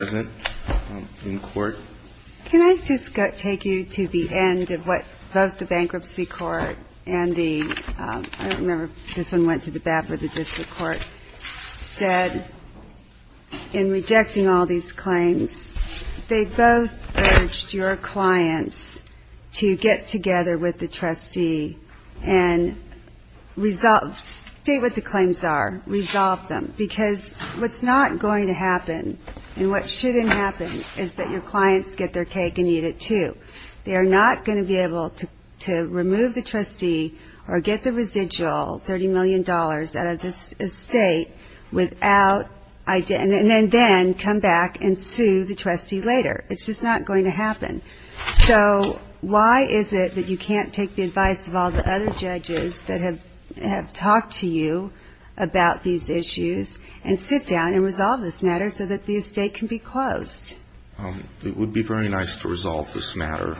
Can I just take you to the end of what both the Bankruptcy Court and the, I don't remember, this one went to the BAP or the District Court said in rejecting all these claims. They both urged your clients to get together with the trustee and state what the claims are, resolve them because what's not going to happen and what shouldn't happen is that your clients get their cake and eat it too. They are not going to be able to remove the trustee or get the residual $30 million out of this estate without, and then come back and sue the trustee later. It's just not going to happen. So why is it that you can't take the advice of all the other judges that have talked to you about these issues and sit down and resolve this matter so that the estate can be closed? It would be very nice to resolve this matter.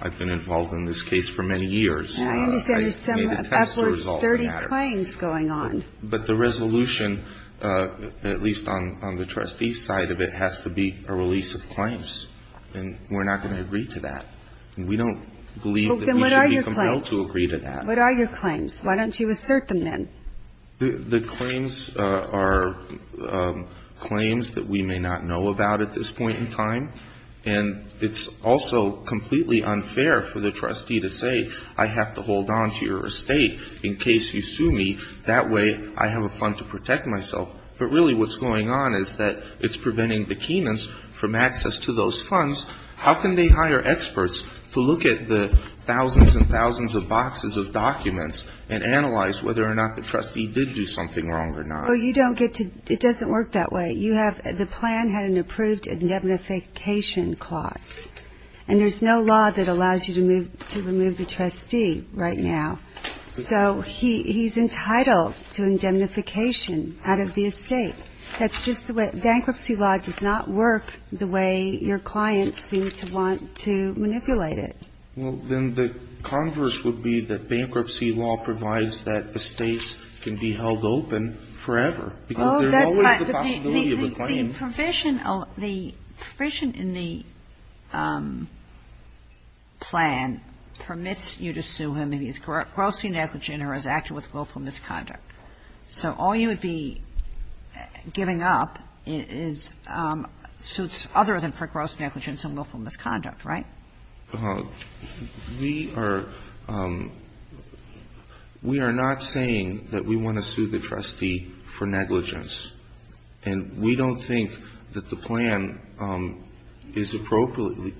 I've been involved in this case for many years. I understand there's some upwards of 30 claims going on. But the resolution, at least on the trustee side of it, has to be a release of claims and we're not going to agree to that. We don't believe that we should be compelled to agree to that. What are your claims? Why don't you assert them then? The claims are claims that we may not know about at this point in time. And it's also completely unfair for the trustee to say, I have to hold on to your estate in case you sue me. That way I have a fund to protect myself. But really what's going on is that it's preventing the Keynans from access to those funds. How can they hire experts to look at the thousands and thousands of boxes of documents and analyze whether or not the trustee did do something wrong or not? Well, you don't get to – it doesn't work that way. You have – the plan had an approved indemnification clause. And there's no law that allows you to remove the trustee right now. So he's entitled to indemnification out of the estate. That's just the way – bankruptcy law does not work the way your clients seem to want to manipulate it. Well, then the converse would be that bankruptcy law provides that estates can be held open forever. Because there's always the possibility of a claim. Oh, that's not – the provision – the provision in the plan permits you to sue him if he's grossly negligent or has acted with willful misconduct. So all you would be giving up is – suits other than for gross negligence and willful misconduct, right? We are – we are not saying that we want to sue the trustee for negligence. And we don't think that the plan is appropriately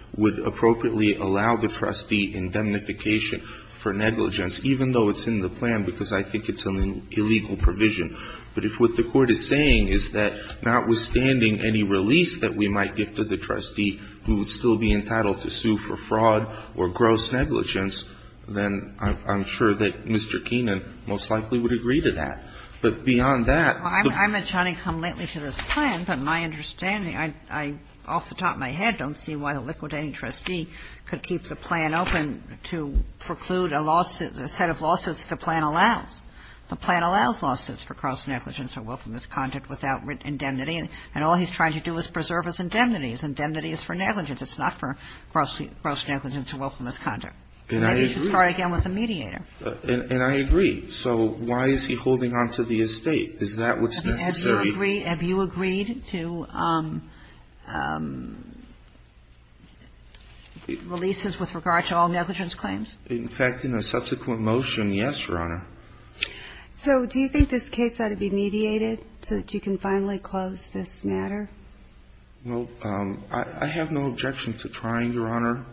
– would appropriately allow the trustee indemnification for negligence, even though it's in the plan because I think it's an illegal provision. But if what the Court is saying is that notwithstanding any release that we might give to the trustee who would still be entitled to sue for fraud or gross negligence, then I'm sure that Mr. Keenan most likely would agree to that. But beyond that – Well, I meant to come lately to this plan, but my understanding – I, off the top of my head, don't see why a liquidating trustee could keep the plan open to preclude a lawsuit – a set of lawsuits the plan allows. The plan allows lawsuits for gross negligence or willful misconduct without indemnity. And all he's trying to do is preserve his indemnities. Indemnity is for negligence. It's not for gross – gross negligence or willful misconduct. And maybe he should start again with a mediator. And I agree. So why is he holding on to the estate? Is that what's necessary? Have you agreed to releases with regard to all negligence claims? In fact, in a subsequent motion, yes, Your Honor. So do you think this case ought to be mediated so that you can finally close this matter? Well, I have no objection to trying, Your Honor.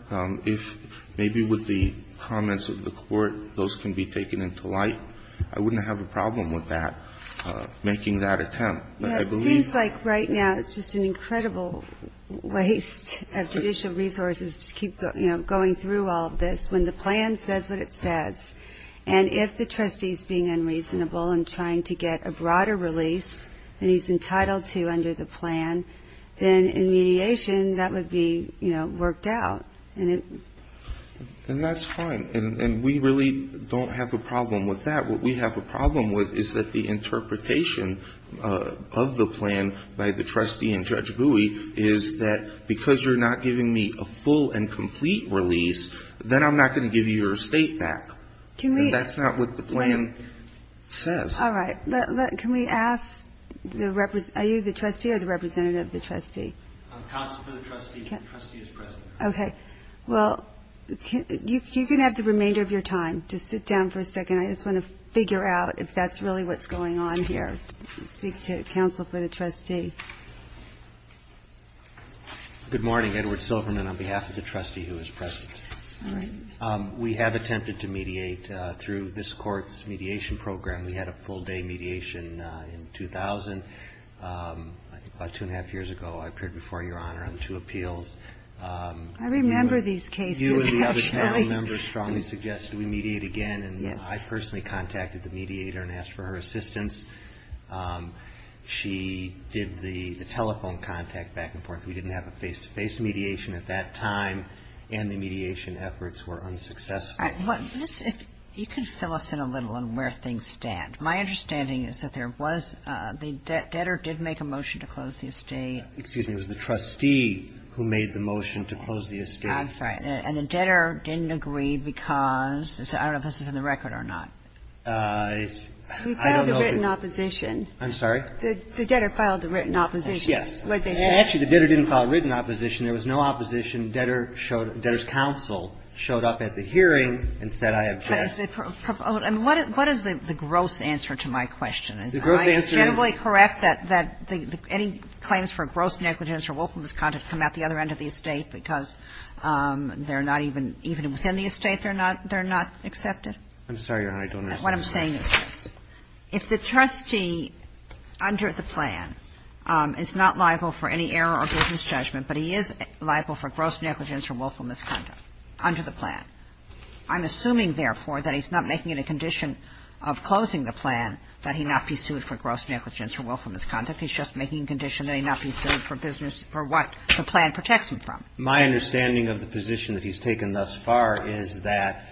If maybe with the comments of the Court, those can be taken into light, I wouldn't have a problem with that, making that attempt. But I believe – It seems like right now it's just an incredible waste of judicial resources to keep going through all of this when the plan says what it says. And if the trustee's being unreasonable and trying to get a broader release than he's entitled to under the plan, then in mediation that would be, you know, worked out. And that's fine. And we really don't have a problem with that. What we have a problem with is that the interpretation of the plan by the trustee and Judge Bowie is that because you're not giving me a full and complete release, then I'm not going to give you your estate back. And that's not what the plan says. All right. Can we ask the – are you the trustee or the representative of the trustee? Counsel for the trustee. The trustee is present. Okay. Well, you can have the remainder of your time to sit down for a second. I just want to figure out if that's really what's going on here. I'd like to speak to counsel for the trustee. Good morning. Edward Silverman on behalf of the trustee who is present. All right. We have attempted to mediate through this Court's mediation program. We had a full day mediation in 2000, I think about two and a half years ago. I appeared before Your Honor on two appeals. I remember these cases, actually. You and the other panel members strongly suggested we mediate again. Yes. I personally contacted the mediator and asked for her assistance. She did the telephone contact back and forth. We didn't have a face-to-face mediation at that time. And the mediation efforts were unsuccessful. All right. Let's see if you can fill us in a little on where things stand. My understanding is that there was – the debtor did make a motion to close the estate. Excuse me. It was the trustee who made the motion to close the estate. I'm sorry. And the debtor didn't agree because – I don't know if this is in the record or not. I don't know if it's – He filed a written opposition. I'm sorry? The debtor filed a written opposition. Yes. What they said. Actually, the debtor didn't file a written opposition. There was no opposition. Debtor showed – debtor's counsel showed up at the hearing and said, I object. What is the gross answer to my question? The gross answer is – Am I generally correct that any claims for gross negligence or willful discontent come out the other end of the estate because they're not even – even within the estate, they're not accepted? I'm sorry, Your Honor. I don't understand. What I'm saying is this. If the trustee under the plan is not liable for any error or business judgment, but he is liable for gross negligence or willful misconduct under the plan, I'm assuming, therefore, that he's not making it a condition of closing the plan that he not be sued for gross negligence or willful misconduct. He's just making a condition that he not be sued for business – for what the plan protects him from. My understanding of the position that he's taken thus far is that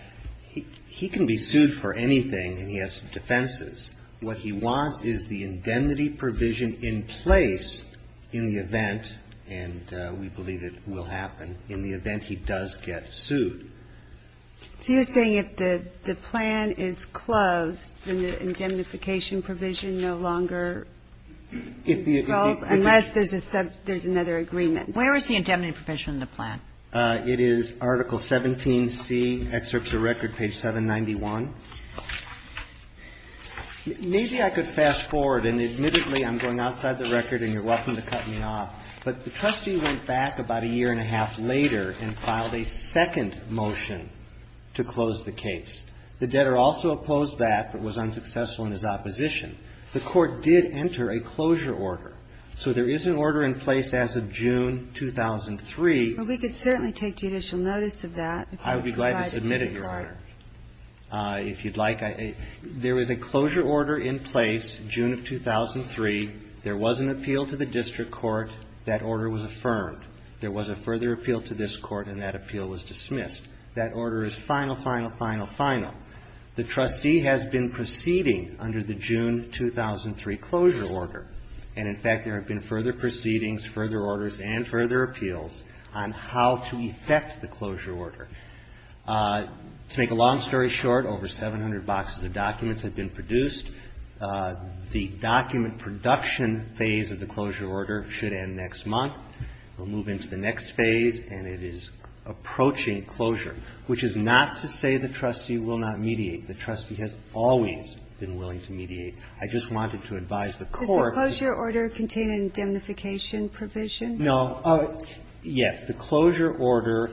he can be sued for anything, and he has defenses. What he wants is the indemnity provision in place in the event – and we believe it will happen – in the event he does get sued. So you're saying if the plan is closed, then the indemnification provision no longer is closed unless there's a – there's another agreement. Where is the indemnity provision in the plan? It is Article 17C, Excerpts of Record, page 791. Maybe I could fast forward, and admittedly, I'm going outside the record, and you're welcome to cut me off, but the trustee went back about a year and a half later and filed a second motion to close the case. The debtor also opposed that but was unsuccessful in his opposition. The court did enter a closure order. So there is an order in place as of June 2003. Well, we could certainly take judicial notice of that. I would be glad to submit it, Your Honor. If you'd like, I – there is a closure order in place, June of 2003. There was an appeal to the district court. That order was affirmed. There was a further appeal to this court, and that appeal was dismissed. That order is final, final, final, final. The trustee has been proceeding under the June 2003 closure order. And, in fact, there have been further proceedings, further orders, and further appeals on how to effect the closure order. To make a long story short, over 700 boxes of documents have been produced. The document production phase of the closure order should end next month. We'll move into the next phase, and it is approaching closure, which is not to say the trustee will not mediate. The trustee has always been willing to mediate. I just wanted to advise the court. The closure order contain an indemnification provision? No. Yes. The closure order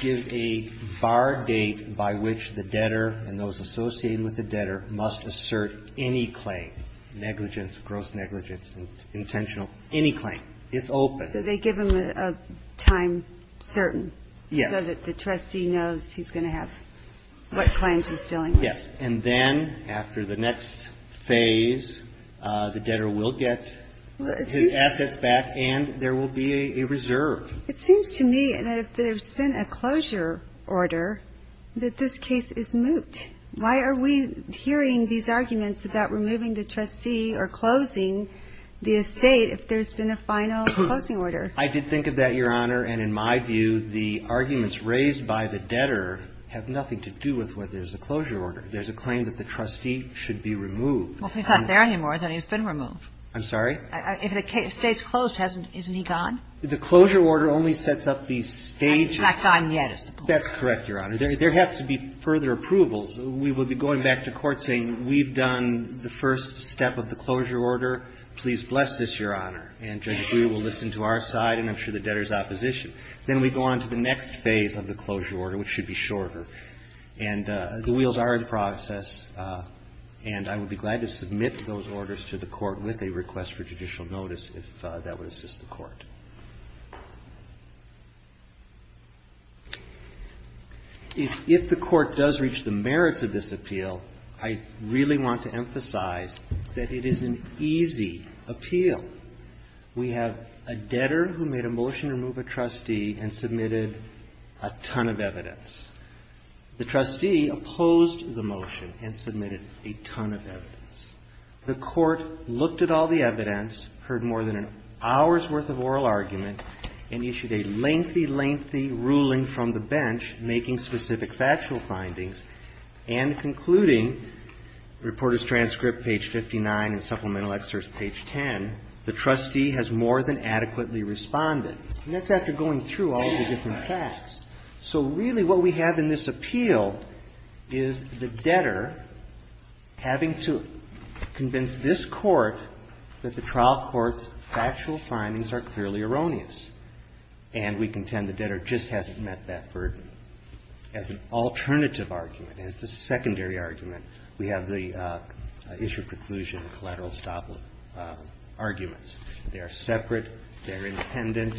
gives a bar date by which the debtor and those associated with the debtor must assert any claim, negligence, gross negligence, intentional – any claim. It's open. So they give them a time certain so that the trustee knows he's going to have what claims he's dealing with. Yes. And then, after the next phase, the debtor will get his assets back, and there will be a reserve. It seems to me that if there's been a closure order, that this case is moot. Why are we hearing these arguments about removing the trustee or closing the estate if there's been a final closing order? I did think of that, Your Honor. And, in my view, the arguments raised by the debtor have nothing to do with whether there's a closure order. There's a claim that the trustee should be removed. Well, if he's not there anymore, then he's been removed. I'm sorry? If the estate's closed, hasn't he gone? The closure order only sets up the stage of the case. He's not gone yet, is the point. That's correct, Your Honor. There have to be further approvals. We will be going back to court saying, we've done the first step of the closure order. Please bless this, Your Honor. And Judge Brewer will listen to our side, and I'm sure the debtor's opposition. Then we go on to the next phase of the closure order, which should be shorter. And the wheels are in process, and I would be glad to submit those orders to the court with a request for judicial notice, if that would assist the court. If the court does reach the merits of this appeal, I really want to emphasize that it is an easy appeal. We have a debtor who made a motion to remove a trustee and submitted a ton of evidence. The trustee opposed the motion and submitted a ton of evidence. The court looked at all the evidence, heard more than an hour's worth of oral argument, and issued a lengthy, lengthy ruling from the bench, making specific factual findings, and concluding, reporters' transcript, page 59, and supplemental excerpts, page 10, the trustee has more than adequately responded. And that's after going through all of the different facts. So really, what we have in this appeal is the debtor having to convince this court that the trial court's factual findings are clearly erroneous, and we contend the debtor just hasn't met that burden. As an alternative argument, as a secondary argument, we have the issue of preclusion and collateral estoppel arguments. They are separate. They are independent.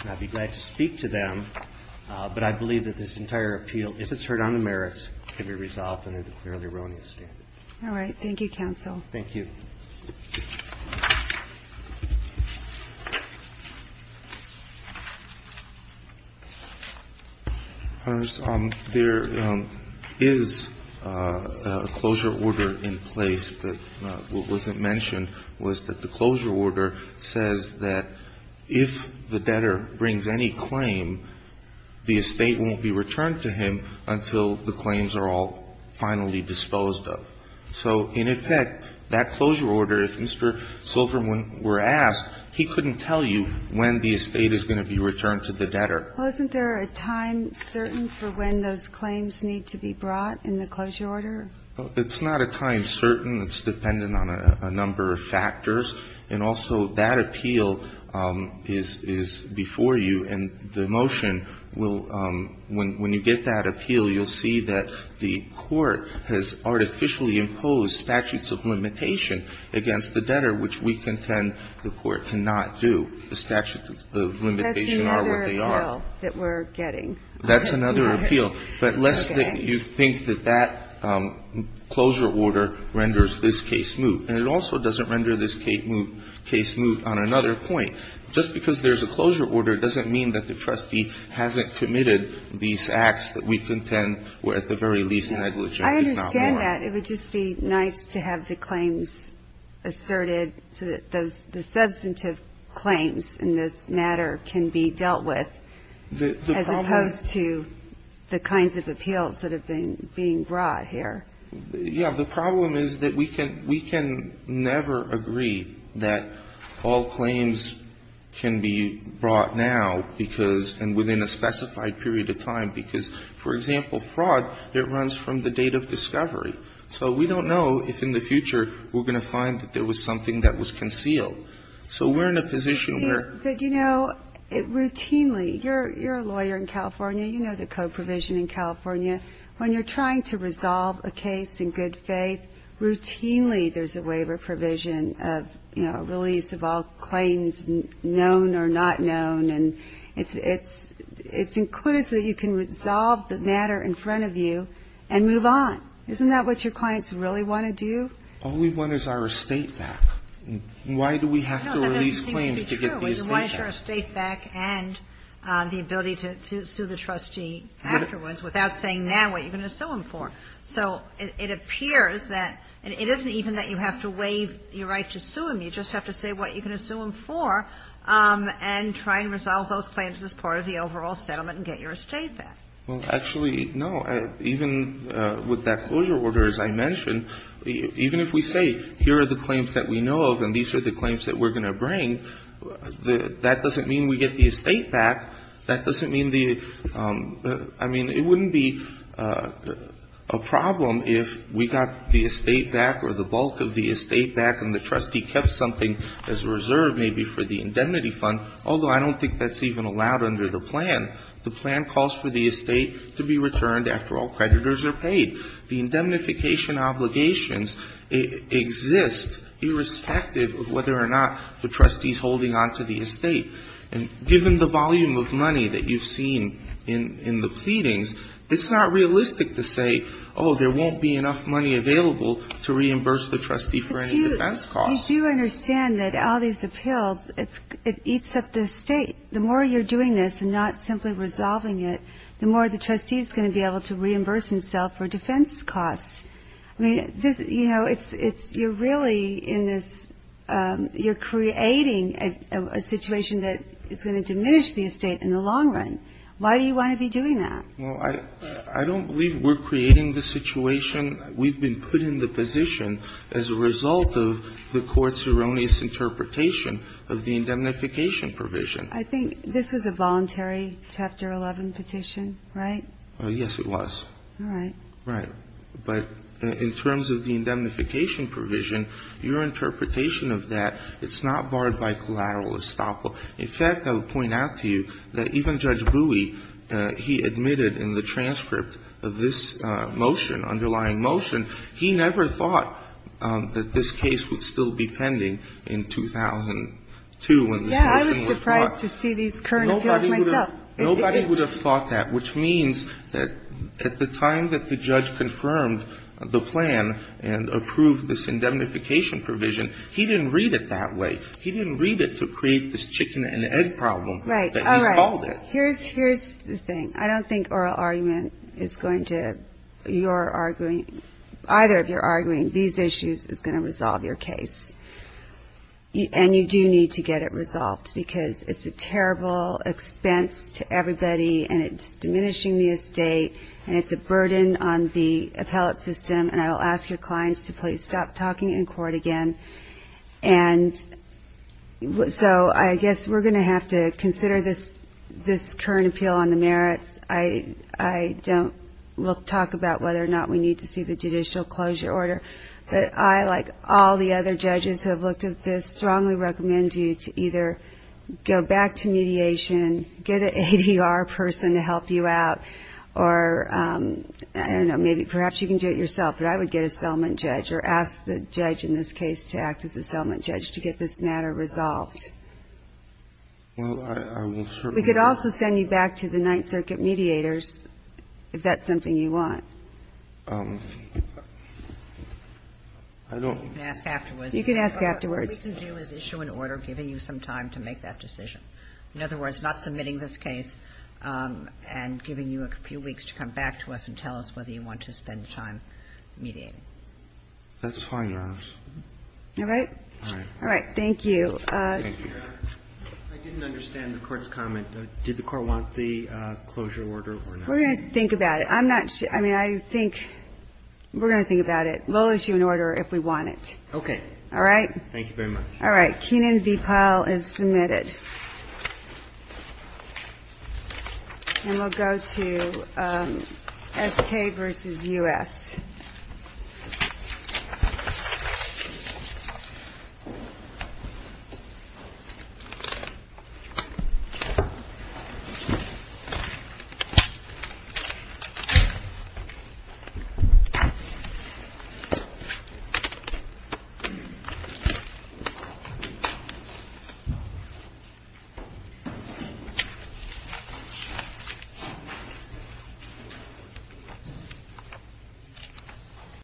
And I'd be glad to speak to them, but I believe that this entire appeal, if it's heard on the merits, can be resolved under the clearly erroneous standard. All right. Thank you, counsel. Thank you. There is a closure order in place that wasn't mentioned, was that the closure order is a closure order that is not a closure order. It says that if the debtor brings any claim, the estate won't be returned to him until the claims are all finally disposed of. So, in effect, that closure order, if Mr. Silverman were asked, he couldn't tell you when the estate is going to be returned to the debtor. Well, isn't there a time certain for when those claims need to be brought in the closure order? It's not a time certain. It's dependent on a number of factors. And also, that appeal is before you, and the motion will, when you get that appeal, you'll see that the court has artificially imposed statutes of limitation against the debtor, which we contend the court cannot do. The statutes of limitation are what they are. That's another appeal that we're getting. That's another appeal, but less that you think that that closure order renders this case moot. And it also doesn't render this case moot on another point. Just because there's a closure order doesn't mean that the trustee hasn't committed these acts that we contend were at the very least negligent. It's not warranted. I understand that. It would just be nice to have the claims asserted so that those the substantive claims in this matter can be dealt with as opposed to the kinds of appeals that have been brought here. Yeah. The problem is that we can never agree that all claims can be brought now because and within a specified period of time, because, for example, fraud, it runs from the date of discovery. So we don't know if in the future we're going to find that there was something that was concealed. So we're in a position where we're going to find that there was something that was concealed. But, you know, routinely, you're a lawyer in California. You know the code provision in California. When you're trying to resolve a case in good faith, routinely there's a waiver provision of, you know, release of all claims known or not known. And it's included so that you can resolve the matter in front of you and move on. Isn't that what your clients really want to do? Only one is our estate back. Why do we have to release claims to get the estate back? No, that doesn't seem to be true. We want to get our estate back and the ability to sue the trustee afterwards without saying now what you're going to sue him for. So it appears that it isn't even that you have to waive your right to sue him. You just have to say what you're going to sue him for and try and resolve those claims as part of the overall settlement and get your estate back. Well, actually, no. Even with that closure order, as I mentioned, even if we say here are the claims that we know of and these are the claims that we're going to bring, that doesn't mean we get the estate back. That doesn't mean the — I mean, it wouldn't be a problem if we got the estate back or the bulk of the estate back and the trustee kept something as a reserve maybe for the indemnity fund, although I don't think that's even allowed under the plan. The plan calls for the estate to be returned after all creditors are paid. The indemnification obligations exist irrespective of whether or not the trustee is holding on to the estate. And given the volume of money that you've seen in the pleadings, it's not realistic to say, oh, there won't be enough money available to reimburse the trustee for any defense costs. But you do understand that all these appeals, it eats up the estate. The more you're doing this and not simply resolving it, the more the trustee is going to be able to reimburse himself for defense costs. I mean, this — you know, it's — you're really in this — you're creating a situation that is going to diminish the estate in the long run. Why do you want to be doing that? Well, I don't believe we're creating the situation. We've been put in the position as a result of the Court's erroneous interpretation of the indemnification provision. I think this was a voluntary Chapter 11 petition, right? Yes, it was. All right. Right. But in terms of the indemnification provision, your interpretation of that, it's not barred by collateral estoppel. In fact, I would point out to you that even Judge Bowie, he admitted in the transcript of this motion, underlying motion, he never thought that this case would still be pending in 2002 when this motion was brought. Yeah, I was surprised to see these current appeals myself. Nobody would have thought that, which means that at the time that the judge confirmed the plan and approved this indemnification provision, he didn't read it that way. He didn't read it to create this chicken-and-egg problem that he's called it. Right. All right. Here's the thing. I don't think oral argument is going to — you're arguing — either of you're arguing these issues is going to resolve your case. And you do need to get it resolved because it's a terrible expense to everybody and it's diminishing the estate and it's a burden on the appellate system. And I will ask your clients to please stop talking in court again. And so I guess we're going to have to consider this current appeal on the merits. I don't — we'll talk about whether or not we need to see the judicial closure order. But I, like all the other judges who have looked at this, strongly recommend you to either go back to mediation, get an ADR person to help you out, or I don't know, maybe — perhaps you can do it yourself, but I would get a settlement judge or ask the judge in this case to act as a settlement judge to get this matter resolved. Well, I will certainly — We could also send you back to the Ninth Circuit mediators if that's something you want. I don't — You can ask afterwards. You can ask afterwards. What we can do is issue an order giving you some time to make that decision. In other words, not submitting this case and giving you a few weeks to come back to us and tell us whether you want to spend time mediating. That's fine, Your Honor. All right? All right. Thank you. Thank you, Your Honor. I didn't understand the Court's comment. Did the Court want the closure order or not? We're going to think about it. I'm not — I mean, I think — we're going to think about it. We'll issue an order if we want it. Okay. All right? Thank you very much. All right. Kenan v. Powell is submitted. And we'll go to S.K. versus U.S.